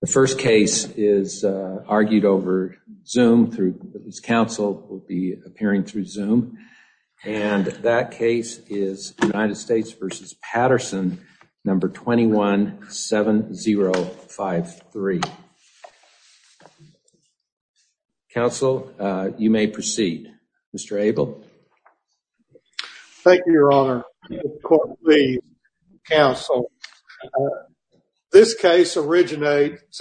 The first case is argued over zoom through this council will be appearing through zoom and that case is United States v. Patterson number 217053. Council, you may proceed. Mr. Abel. Thank you, your honor. The council, this case originates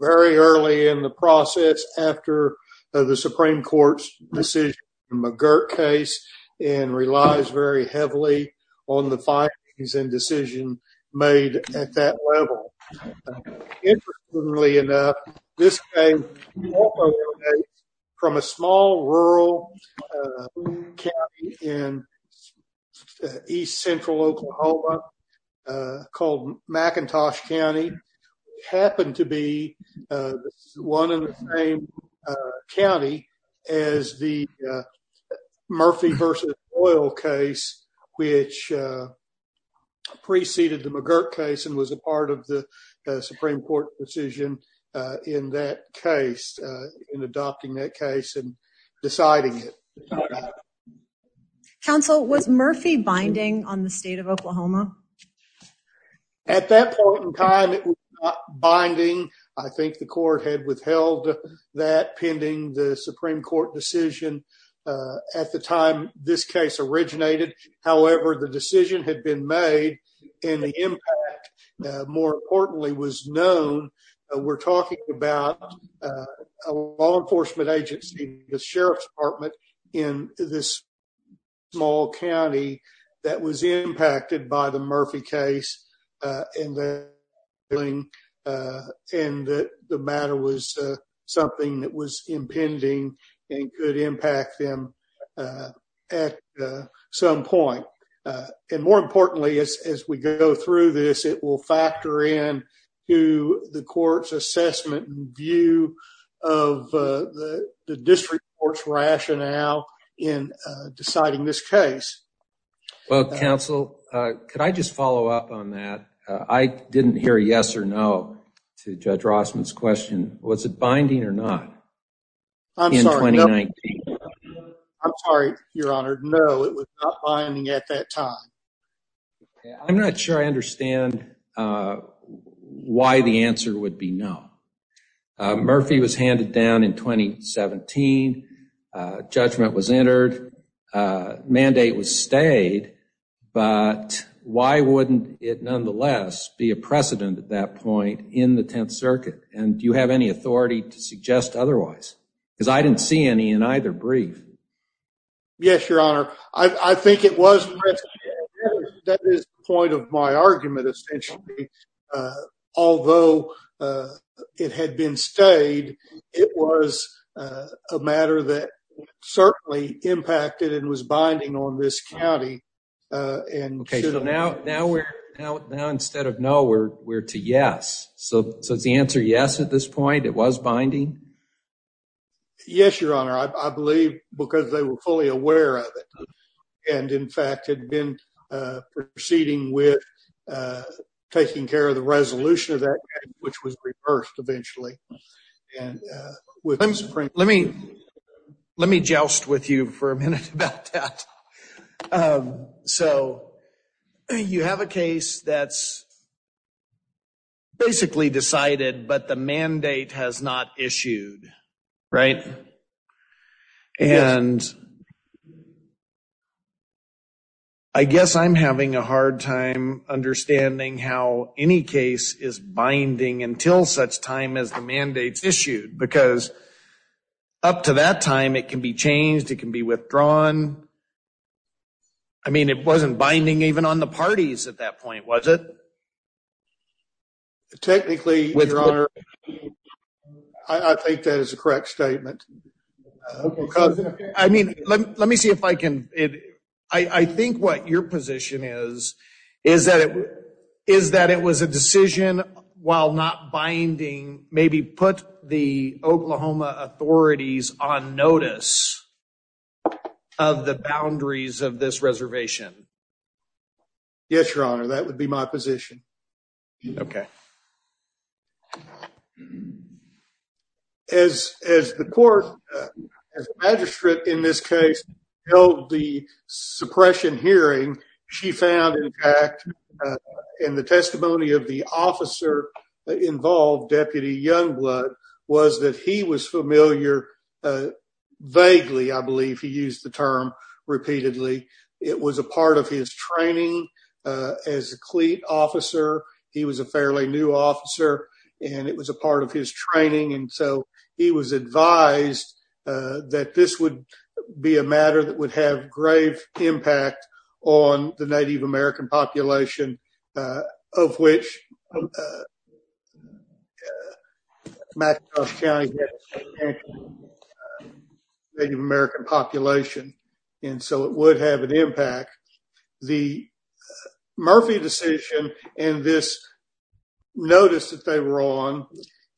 very early in the process after the Supreme Court's decision McGirt case and relies very heavily on the findings and decision made at that level. Interestingly enough, this came from a small rural county in east central Oklahoma called McIntosh County happened to be one in the same county as the Murphy v. Royal case, which preceded the McGirt case and was a part of the Supreme Court decision in that case in adopting that case and deciding it. Council was Murphy binding on the state of Oklahoma? At that point in time, it was binding. I think the court had withheld that pending the Supreme originated. However, the decision had been made and the impact more importantly was known. We're talking about a law enforcement agency, the sheriff's department in this small county that was impacted by the Murphy case. And the matter was something that was impending and could impact them at some point. And more importantly, as we go through this, it will factor in to the court's assessment view of the district court's rationale in deciding this case. Well, council, could I just follow up on that? I didn't hear yes or no to Judge Rossman's question. Was it binding or not in 2019? I'm sorry, your honor. No, it was not binding at that time. I'm not sure I understand why the answer would be no. Murphy was handed down in 2017. Judgment was entered. Mandate was stayed. But why wouldn't it nonetheless be a precedent at that circuit? And do you have any authority to suggest otherwise? Because I didn't see any in either brief. Yes, your honor. I think it was. That is the point of my argument, essentially. Although it had been stayed, it was a matter that certainly impacted and was binding on this county. Okay, so now instead of no, we're to yes. So is the answer yes at this point? It was binding? Yes, your honor. I believe because they were fully aware of it and in fact had been proceeding with taking care of the resolution of that which was reversed eventually. And let me joust with you for a minute about that. So you have a case that's basically decided, but the mandate has not issued, right? And I guess I'm having a hard time understanding how any case is binding until such time as mandate is issued. Because up to that time it can be changed. It can be withdrawn. I mean, it wasn't binding even on the parties at that point, was it? Technically, your honor, I think that is a correct statement. I mean, let me see if I can. I think what your position is, is that it was a decision while not binding, maybe put the Oklahoma authorities on notice of the boundaries of this reservation? Yes, your honor. That would be my position. Okay. As the court, as magistrate in this case held the suppression hearing, she found in fact in the testimony of the officer involved, Deputy Youngblood, was that he was familiar vaguely, I believe he used the term repeatedly. It was a part of his training as a cleat officer. He was a fairly new officer and it was a part of his training. And so he was advised that this would be a matter that would have grave impact on the Native American population of which McIntosh County had a significant Native American population. And so it would have an impact. The Murphy decision and this notice that they were on,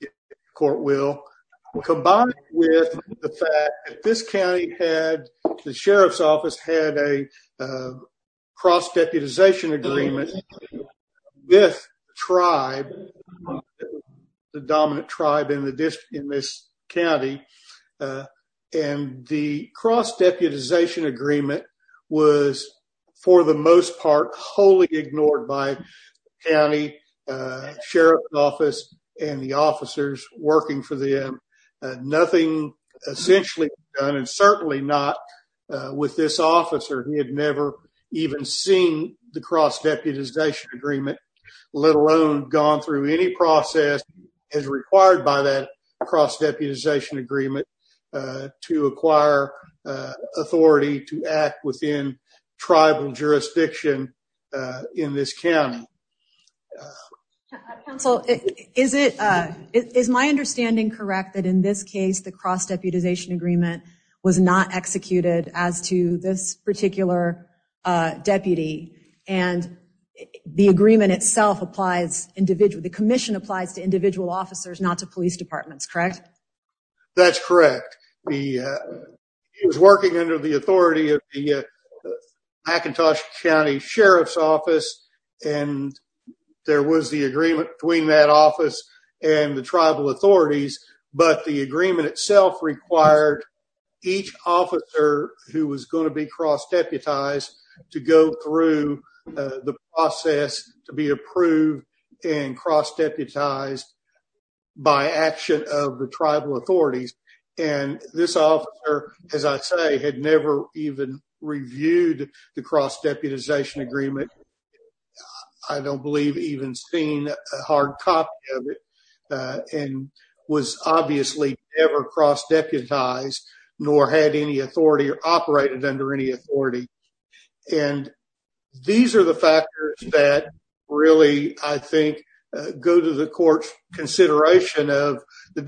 the court will, combined with the fact that this county had, the sheriff's office had a cross deputization agreement with tribe, the dominant tribe in this county. And the cross deputization agreement was for the most part, wholly ignored by county, sheriff's office and the officers working for them. Nothing essentially done and certainly not with this officer. He had never even seen the cross deputization agreement, let alone gone through any process as required by that cross deputization agreement to acquire authority to act within tribal jurisdiction in this county. Counsel, is it, is my understanding correct that in this case, the cross deputization agreement was not executed as to this particular deputy and the agreement itself applies individual, the commission applies to individual officers, not to police departments, correct? That's correct. He was working under the authority of the McIntosh County Sheriff's office and there was the agreement between that office and the tribal authorities, but the agreement itself required each officer who was going to be cross deputized to go through the process to be approved and cross deputized by action of the tribal authorities. And this officer, as I say, had never even reviewed the cross deputization agreement. I don't believe even seeing a hard copy of it and was obviously never cross deputized nor had any authority or operated under any authority. And these are the factors that really, I think, go to the court's consideration of the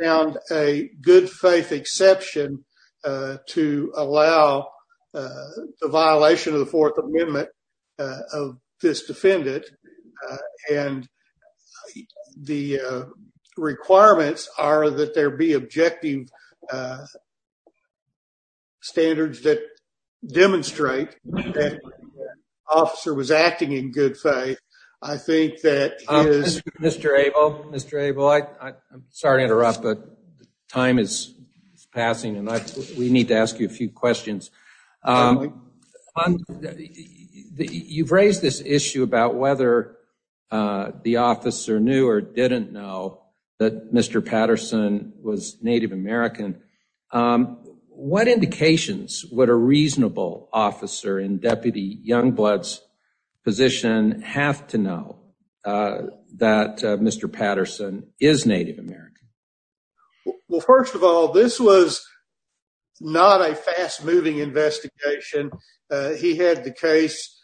found a good faith exception to allow the violation of the fourth amendment of this defendant. And the requirements are that there be objective standards that demonstrate that the officer was acting in good faith. I think that is... Mr. Abel, I'm sorry to interrupt, but time is passing and we need to ask you a few questions. You've raised this issue about whether the officer knew or didn't know that Mr. Patterson was Native American. What indications would a reasonable officer in Deputy Youngblood's position have to know that Mr. Patterson is Native American? Well, first of all, this was not a fast moving investigation. He had the case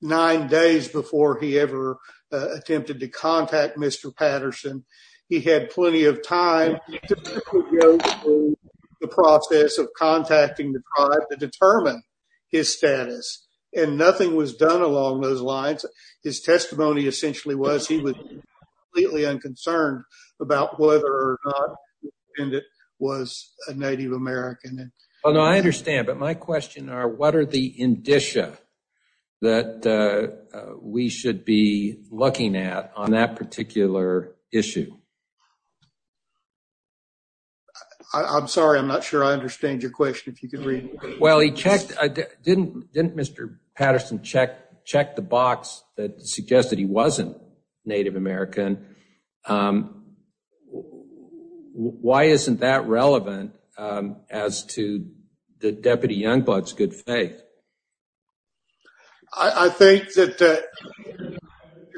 nine days before he ever attempted to contact Mr. Patterson. He had plenty of time to go through the process of contacting the tribe to determine his status and nothing was done along those lines. His testimony essentially was he was completely unconcerned about whether or not the defendant was a Native American. Well, no, I understand, but my question are what are the looking at on that particular issue? I'm sorry, I'm not sure I understand your question. If you could read it. Well, he checked. Didn't Mr. Patterson check the box that suggested he wasn't Native American? Why isn't that relevant as to the Deputy Youngblood's good faith? I think that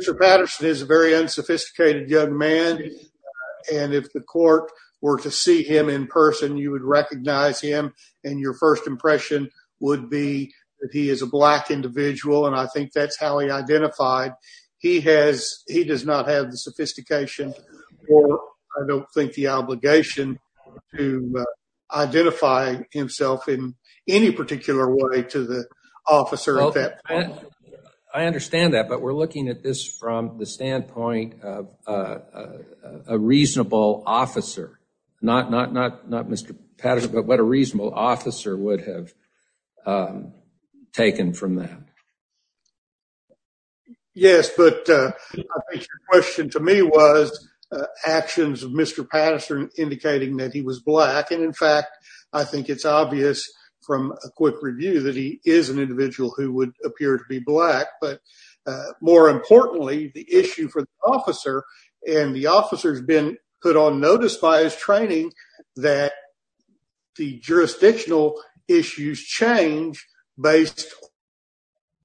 Mr. Patterson is a very unsophisticated young man, and if the court were to see him in person, you would recognize him and your first impression would be that he is a black individual, and I think that's how he identified. He has, he does not have the sophistication or I don't think the obligation to identify himself in any particular way to the officer. I understand that, but we're looking at this from the standpoint of a reasonable officer, not Mr. Patterson, but what a reasonable officer would have taken from that. Yes, but I think your question to me was actions of Mr. Patterson indicating that he was black, and in fact, I think it's obvious from a quick review that he is an individual who would appear to be black, but more importantly, the issue for the officer and the officer's been put on notice by his training that the jurisdictional issues change based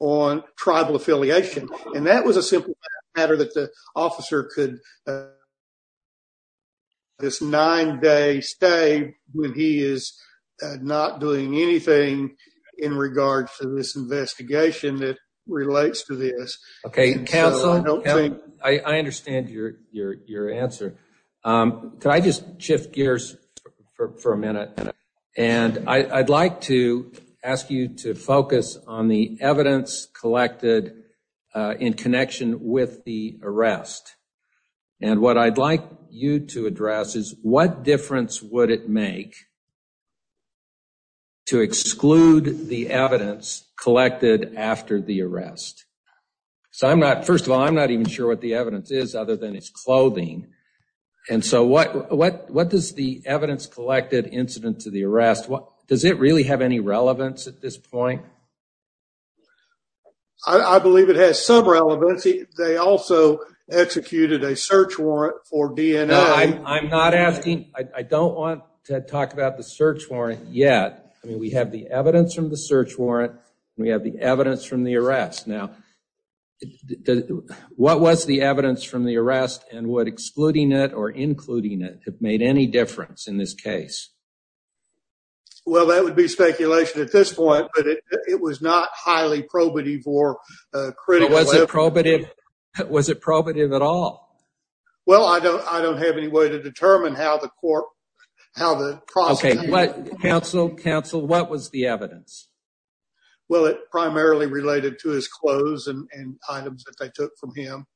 on tribal affiliation, and that was a simple matter that the officer could this nine day stay when he is not doing anything in regard to this investigation that relates to counsel. I understand your answer. Can I just shift gears for a minute, and I'd like to ask you to focus on the evidence collected in connection with the arrest, and what I'd like you to address is what difference would it make to exclude the evidence collected after the arrest? First of all, I'm not even sure what the evidence is other than it's clothing, and so what does the evidence collected incident to the arrest, does it really have any relevance at this point? I believe it has some relevancy. They also executed a search warrant for DNA. I'm not asking, I don't want to talk about the search warrant yet. I mean, we have the evidence from the search warrant. We have the evidence from the arrest. Now, what was the evidence from the arrest and what excluding it or including it have made any difference in this case? Well, that would be speculation at this point, but it was not highly probative or critical. Was it probative? Was it probative at all? Well, I don't have any way to determine how the court, how the process... Okay, counsel, counsel, what was the evidence? Well, it primarily related to his clothes and items that they took from him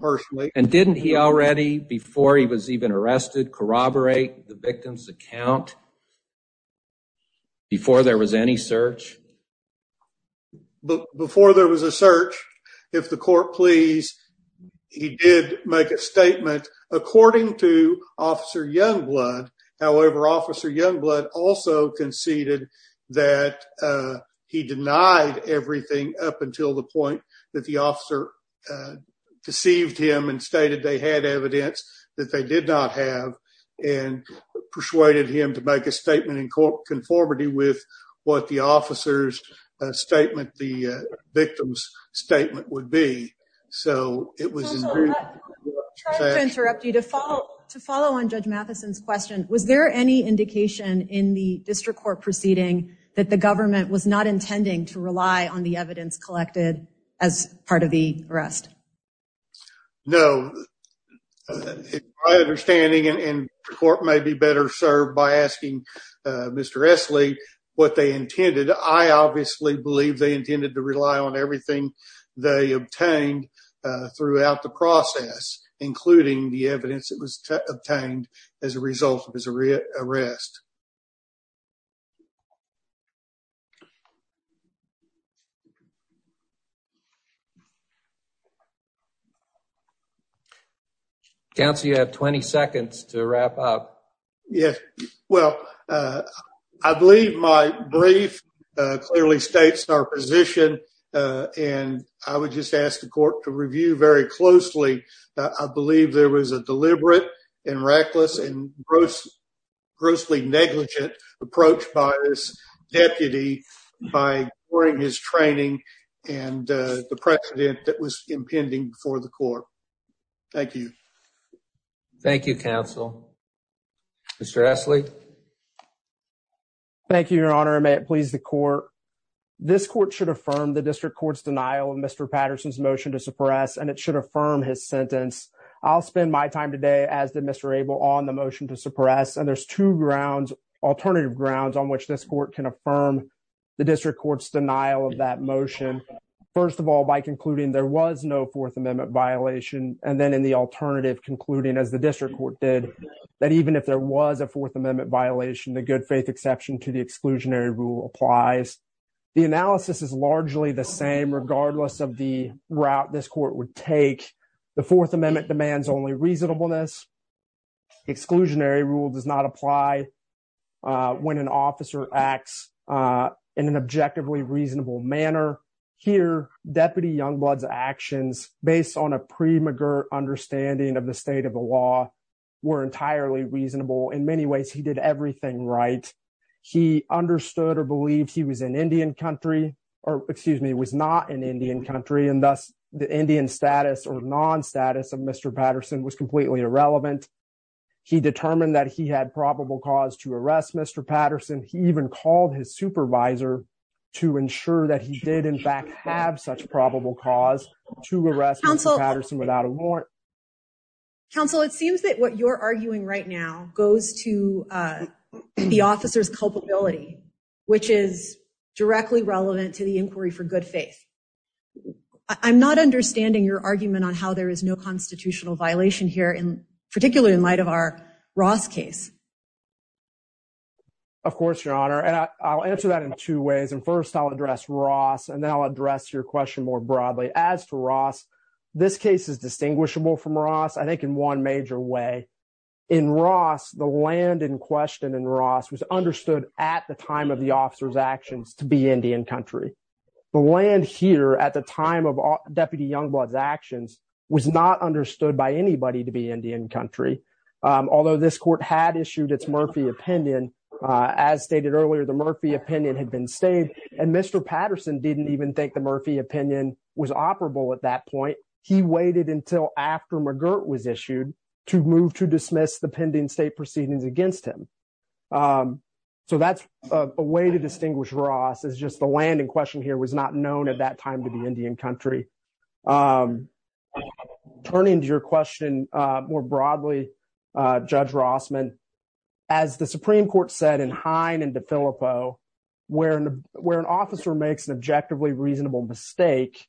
personally. And didn't he already, before he was even arrested, corroborate the victim's account before there was any search? Before there was a search, if the court please, he did make a statement according to Officer Youngblood. However, Officer Youngblood also conceded that he denied everything up until the point that the officer deceived him and stated they had evidence that they did not have and persuaded him to make a statement in conformity with what the officer's statement, the victim's statement would be. So it was... Counsel, I'm sorry to interrupt you. To follow on Judge Matheson's question, was there any indication in the district court proceeding that the government was not intending to rely on the evidence collected as part of the arrest? No. My understanding, and the court may be better served by asking Mr. Esley what they intended. I obviously believe they intended to rely on everything they obtained throughout the process, including the evidence that was obtained as a result of his arrest. Counsel, you have 20 seconds to wrap up. Yes. Well, I believe my brief clearly states our position and I would just ask the court to review very closely. I believe there was a deliberate and reckless and grossly negligent approach by this deputy by during his training and the court. Thank you. Thank you, Counsel. Mr. Esley. Thank you, Your Honor. May it please the court. This court should affirm the district court's denial of Mr. Patterson's motion to suppress and it should affirm his sentence. I'll spend my time today as did Mr. Abel on the motion to suppress and there's two grounds, alternative grounds, on which this court can affirm the district court's denial of that motion. First of all, by concluding there was no Fourth Amendment violation and then in the alternative concluding as the district court did that even if there was a Fourth Amendment violation, the good faith exception to the exclusionary rule applies. The analysis is largely the same regardless of the route this court would take. The Fourth Amendment demands only reasonableness. Exclusionary rule does not apply when an officer acts in an objectively reasonable manner. Here, Deputy Youngblood's actions based on a pre-McGirt understanding of the state of the law were entirely reasonable. In many ways, he did everything right. He understood or believed he was an Indian country or excuse me was not an Indian country and thus the Indian status or non-status of Mr. Patterson was completely irrelevant. He determined that he had probable cause to arrest Mr. Patterson. He even called his supervisor to ensure that he did in fact have such probable cause to arrest Patterson without a warrant. Counsel, it seems that what you're arguing right now goes to the officer's culpability, which is directly relevant to the inquiry for good faith. I'm not understanding your argument on how there is no constitutional violation here, particularly in light of our Ross case. Of course, Your Honor, and I'll answer that in two ways and first I'll address Ross and then I'll address your question more broadly. As to Ross, this case is distinguishable from Ross I think in one major way. In Ross, the land in question in Ross was understood at the time of the officer's actions to be Indian country. The land here at the time of Deputy Youngblood's actions was not understood by anybody to be Indian country, although this court had issued its Murphy opinion. As stated earlier, the Murphy opinion had been stayed and Mr. Patterson didn't even think the Murphy opinion was operable at that point. He waited until after McGirt was issued to move to dismiss the pending state proceedings against him. So that's a way to distinguish Ross. It's just the land in question here was not known at that time to be Indian country. Turning to your question more broadly, Judge Rossman, as the Supreme Court said in Hine and DeFillipo, where an officer makes an objectively reasonable mistake,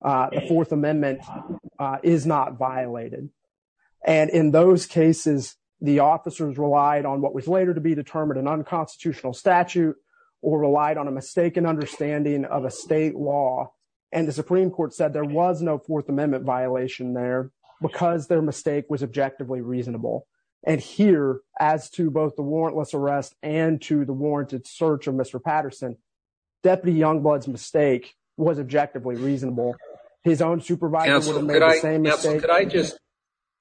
the Fourth Amendment is not violated, and in those cases the officers relied on what was later to be determined an unconstitutional statute or relied on a mistaken understanding of a state law, and the Supreme Court said there was no Fourth Amendment violation there because their mistake was objectively reasonable. And here, as to both the warrantless arrest and to the warranted search of Mr. Patterson, Deputy Youngblood's mistake was objectively reasonable. His own supervisor would have made the same mistake.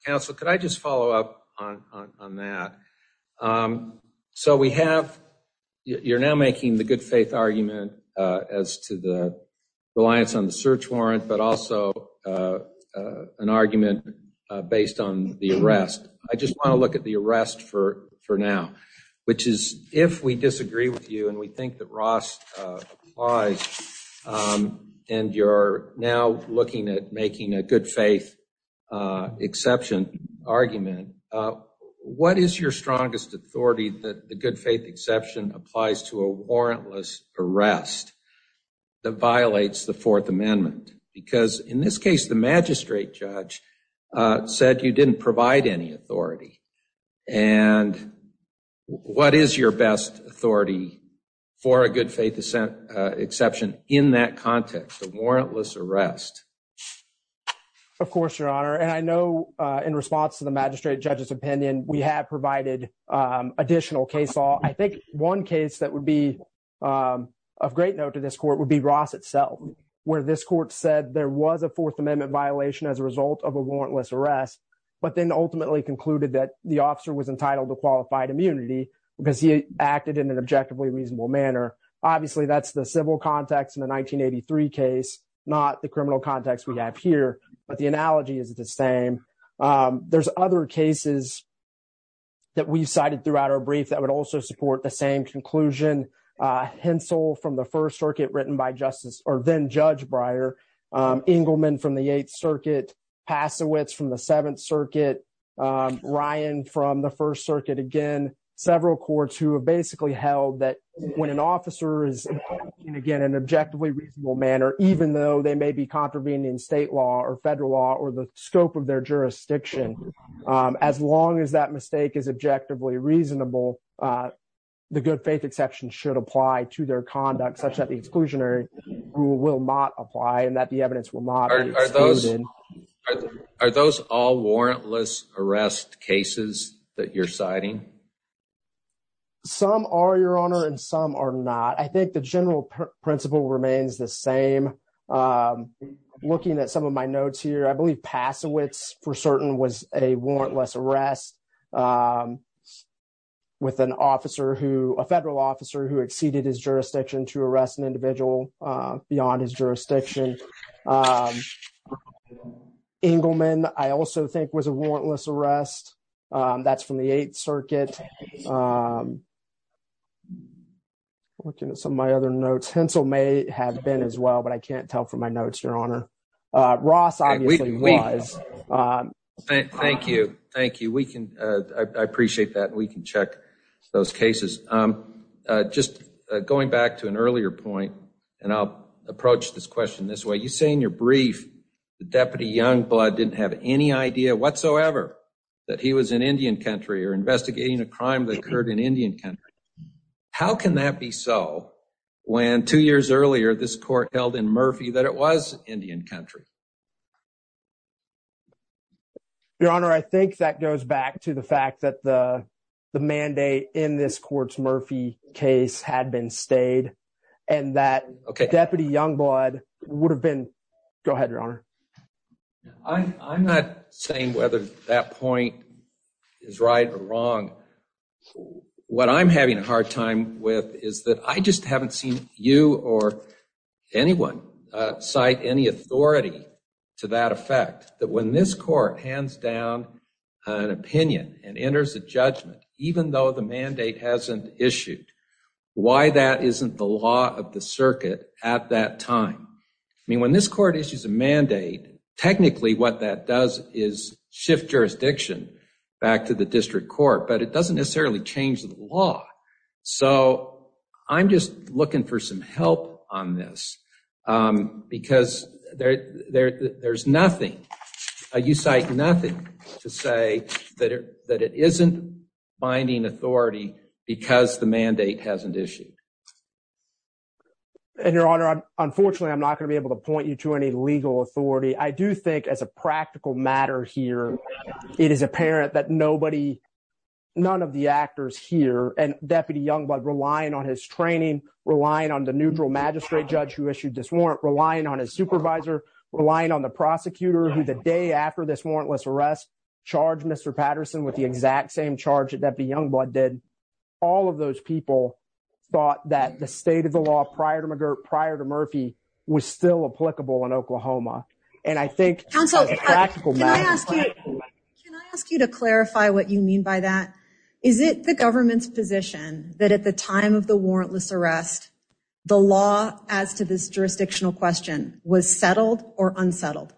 Counsel, could I just follow up on that? So we have, you're now making the good faith argument as to the reliance on the search warrant, but also an argument based on the arrest. I just want to look at the arrest for now, which is if we disagree with you and we think that Ross applies and you're now looking at making a good faith exception argument, what is your strongest authority that the good faith exception applies to a warrantless arrest that violates the Fourth Amendment? Because in this case, the magistrate judge said you didn't provide any authority. And what is your best authority for a good faith exception in that context, a warrantless arrest? Of course, Your Honor. And I know in response to the magistrate judge's opinion, we have provided additional case law. I think one case that would be of great note to this court would be Ross itself, where this court said there was a warrantless arrest, but then ultimately concluded that the officer was entitled to qualified immunity because he acted in an objectively reasonable manner. Obviously, that's the civil context in the 1983 case, not the criminal context we have here. But the analogy is the same. There's other cases that we've cited throughout our brief that would also support the same conclusion. Hensel from the First Circuit written by Justice, or then Judge Breyer, Engleman from the Eighth Circuit, Passowitz from the Seventh Circuit, Ryan from the First Circuit. Again, several courts who have basically held that when an officer is again in an objectively reasonable manner, even though they may be contravening state law or federal law or the scope of their jurisdiction, as long as that mistake is objectively reasonable, the good faith exception should apply to their conduct such that the exclusionary rule will not apply and that the evidence will not be excluded. Are those all warrantless arrest cases that you're citing? Some are, Your Honor, and some are not. I think the general principle remains the same. Looking at some of my notes here, I believe Passowitz for certain was a warrantless arrest with a federal officer who exceeded his jurisdiction to arrest an individual. Beyond his jurisdiction, Engleman, I also think was a warrantless arrest. That's from the Eighth Circuit. Looking at some of my other notes, Hensel may have been as well, but I can't tell from my notes, Your Honor. Ross obviously was. Thank you. Thank you. I appreciate that. We can check those cases. Just going back to an earlier point, and I'll approach this question this way. You say in your brief the Deputy Youngblood didn't have any idea whatsoever that he was in Indian country or investigating a crime that occurred in Indian country. How can that be so when two years earlier this court held in Murphy that it was Indian country? Your Honor, I think that goes back to the fact that the mandate in this Court's Murphy case had been stayed, and that Deputy Youngblood would have been... Go ahead, Your Honor. I'm not saying whether that point is right or wrong. What I'm having a hard time with is that I just haven't seen you or anyone cite any authority to that effect, that when this Court hands down an opinion and enters a judgment, even though the mandate hasn't issued, why that isn't the law of the circuit at that time? I mean, when this Court issues a mandate, technically what that does is shift jurisdiction back to the District Court, but it doesn't necessarily change the law. So I'm just looking for some help on this, because there's nothing... You cite nothing to say that it isn't binding authority because the mandate hasn't issued. Your Honor, unfortunately, I'm not going to be able to point you to any legal authority. I do rely on his training, relying on the neutral magistrate judge who issued this warrant, relying on his supervisor, relying on the prosecutor who, the day after this warrantless arrest, charged Mr. Patterson with the exact same charge that Deputy Youngblood did. All of those people thought that the state of the law prior to Murphy was still applicable in Oklahoma. And I think... Counsel, can I ask you to clarify what you mean by that? Is it the government's position that at the time of the warrantless arrest, the law as to this jurisdictional question was settled or unsettled?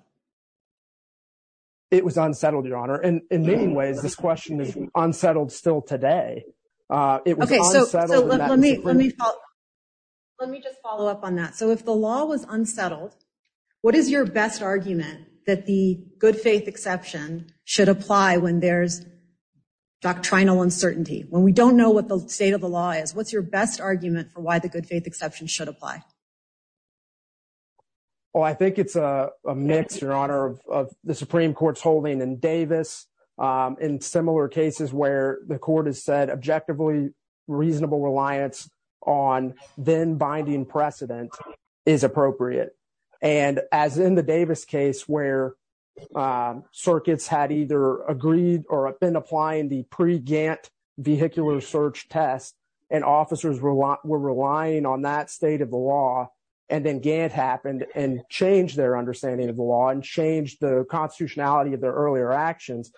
It was unsettled, Your Honor. And in many ways, this question is unsettled still today. Okay, so let me just follow up on that. So if the law was unsettled, what is your best argument that the good faith exception should apply when there's doctrinal uncertainty? When we don't know what the state of the law is, what's your best argument for why the good faith exception should apply? Well, I think it's a mix, Your Honor, of the Supreme Court's holding in Davis, in similar cases where the court has said objectively reasonable reliance on then-binding precedent is appropriate. And as in the Davis case where circuits had either agreed or been applying the pre-Gantt vehicular search test, and officers were relying on that state of the law, and then Gantt happened and changed their understanding of the law and changed the constitutionality of their earlier actions,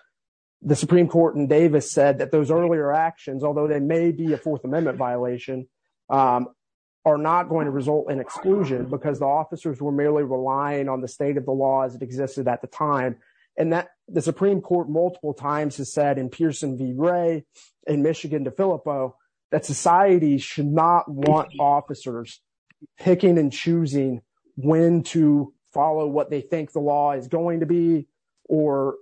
the Supreme Court in Davis said that those earlier actions, although they may be a Fourth Amendment violation, are not going to result in exclusion because the officers were merely relying on the state of the law as it existed at the time. And the Supreme Court multiple times has said in Pearson v. Ray, in Michigan v. Filippo, that society should not want officers picking and choosing when to follow what they think the law is going to be, or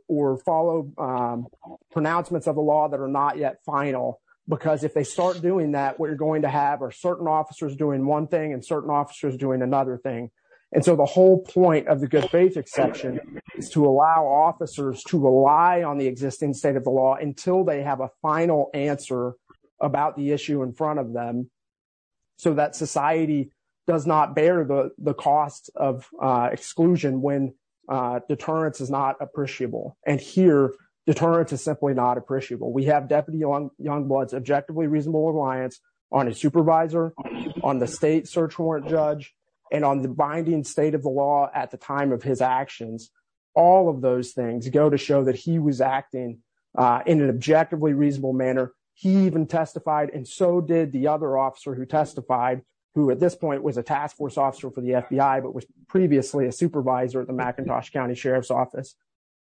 follow pronouncements of the law that are not yet final. Because if they start doing that, what you're going to have are certain officers doing one thing and certain officers doing another thing. And so the whole point of the good faith exception is to allow officers to rely on the existing state of the law until they have a final answer about the issue in front of them, so that society does not bear the cost of exclusion when deterrence is not appreciable. And here, deterrence is simply not appreciable. We have Deputy Youngblood's objectively reasonable reliance on a supervisor, on the state search warrant judge, and on the binding state of the law at the time of his actions. All of those things go to show that he was acting in an objectively reasonable manner. He even testified, and so did the other officer who testified, who at this point was a task force officer for the FBI, but was previously a supervisor at the McIntosh County Sheriff's Office.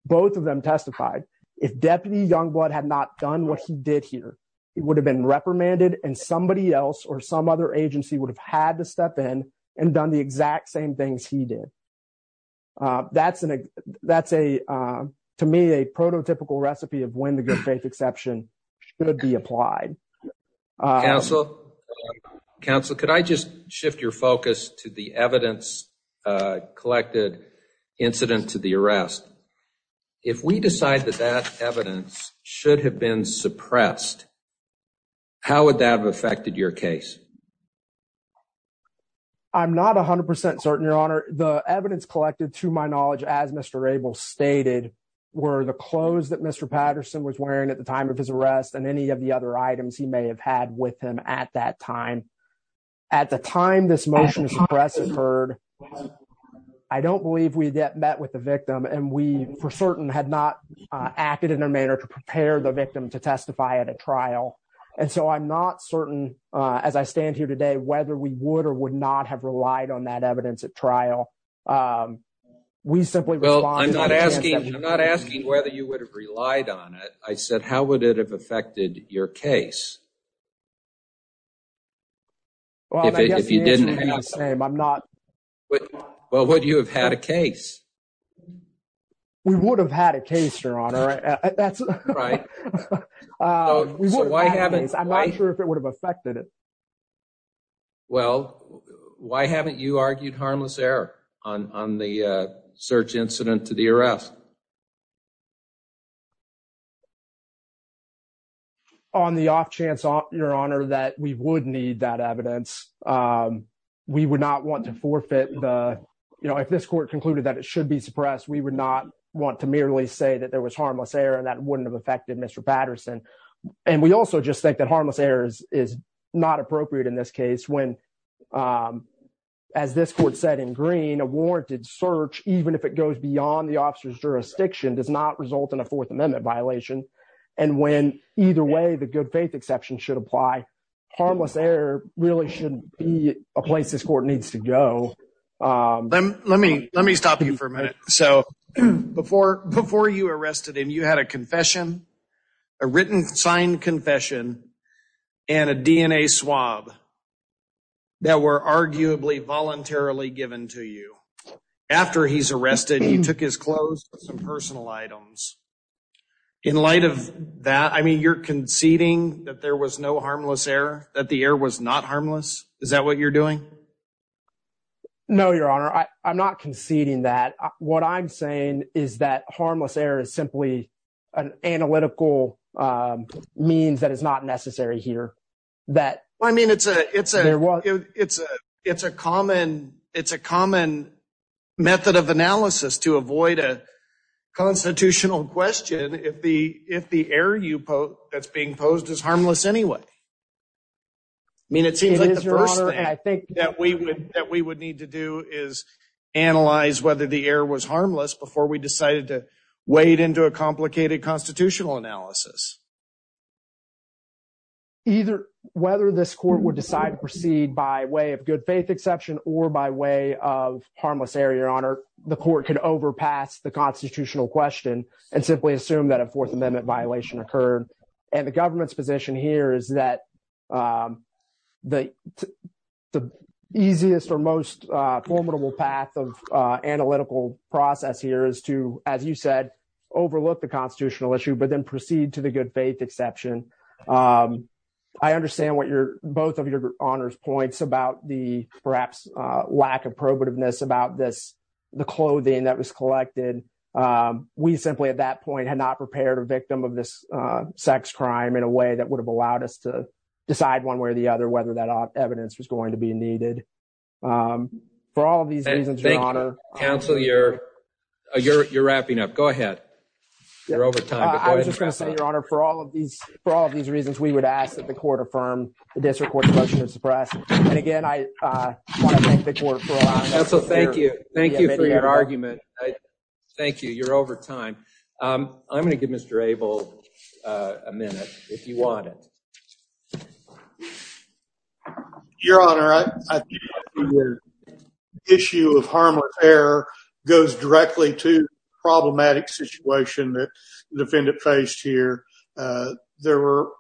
Both of them testified. If Deputy Youngblood had not done what he did here, he would have been reprimanded, and somebody else or some other agency would have had to step in and done the exact same things he did. That's, to me, a prototypical recipe of when the good exception should be applied. Counsel, could I just shift your focus to the evidence collected incident to the arrest? If we decide that that evidence should have been suppressed, how would that have affected your case? I'm not 100% certain, Your Honor. The evidence collected, to my knowledge, as Mr. Abel stated, were the clothes that Mr. Patterson was wearing at the time of his arrest, and any of the other items he may have had with him at that time. At the time this motion to suppress occurred, I don't believe we met with the victim, and we, for certain, had not acted in a manner to prepare the victim to testify at a trial. And so I'm not certain, as I stand here today, whether we would or would not have relied on that evidence at trial. We simply respond to that... Well, I'm not asking whether you would have relied on it. I said, how would it have affected your case? Well, I guess the answer would be the same. Well, would you have had a case? We would have had a case, Your Honor. I'm not sure if it would have affected it. Well, why haven't you argued harmless error on the search incident to the arrest? Well, on the off chance, Your Honor, that we would need that evidence, we would not want to forfeit the... If this court concluded that it should be suppressed, we would not want to merely say that there was harmless error and that wouldn't have affected Mr. Patterson. And we also just think that harmless error is not appropriate in this case when, as this court said in green, a warranted search, even if it goes beyond the officer's jurisdiction, does not result in a Fourth Amendment violation. And when either way the good faith exception should apply, harmless error really shouldn't be a place this court needs to go. Let me stop you for a minute. So before you arrested him, you had a confession, a written signed confession, and a DNA swab that were arguably voluntarily given to you. After he's arrested, you took his clothes and personal items. In light of that, I mean, you're conceding that there was no harmless error, that the error was not harmless? Is that what you're doing? No, Your Honor. I'm not conceding that. What I'm saying is that harmless error is simply an analytical means that is not necessary here. I mean, it's a common method of analysis to avoid a constitutional question if the error that's being posed is harmless anyway. I mean, it seems like the first thing that we would need to do is analyze whether the error was harmless before we decided to wade into a complicated constitutional analysis. Either whether this court would decide to proceed by way of good faith exception or by way of harmless error, Your Honor, the court can overpass the constitutional question and simply assume that a Fourth Amendment violation occurred. And the government's position here is that the easiest or most formidable path of analytical process here is to, as you said, overlook the constitutional issue, but then proceed to the good faith exception. I understand what both of your honors points about the perhaps lack of probativeness about the clothing that was collected. We simply at that point had not prepared a victim of this sex crime in a way that would have allowed us to decide one way or the other whether that evidence was going to be needed. For all of these reasons, Your Honor. Counsel, you're wrapping up. Go ahead. You're over time. I was just going to say, Your Honor, for all of these reasons, we would ask that the court affirm the district court's motion to suppress. And again, I want to thank the court for allowing us to hear. Counsel, thank you. Thank you for your argument. Thank you. You're over time. I'm going to give Mr. Abel a minute if you want it. Your Honor, I think the issue of harm or error goes directly to the problematic situation that the defendant faced here. There were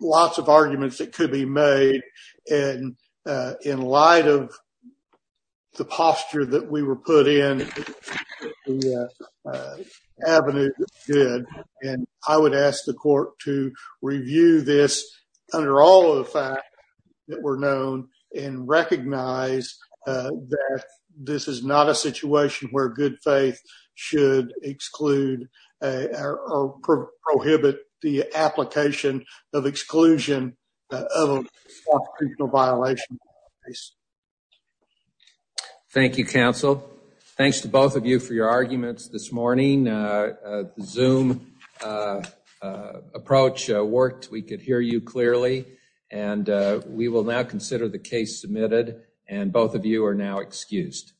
lots of arguments that could be made. And in light of the posture that we were put in, the avenue that we did, and I would ask the court to review this under all of the facts that were known and recognize that this is not a situation where good faith should exclude or prohibit the application of exclusion of a constitutional violation. Thank you, counsel. Thanks to both of you for your arguments this morning. Zoom approach worked. We could hear you clearly. And we will now consider the case submitted. And both of you are now excused.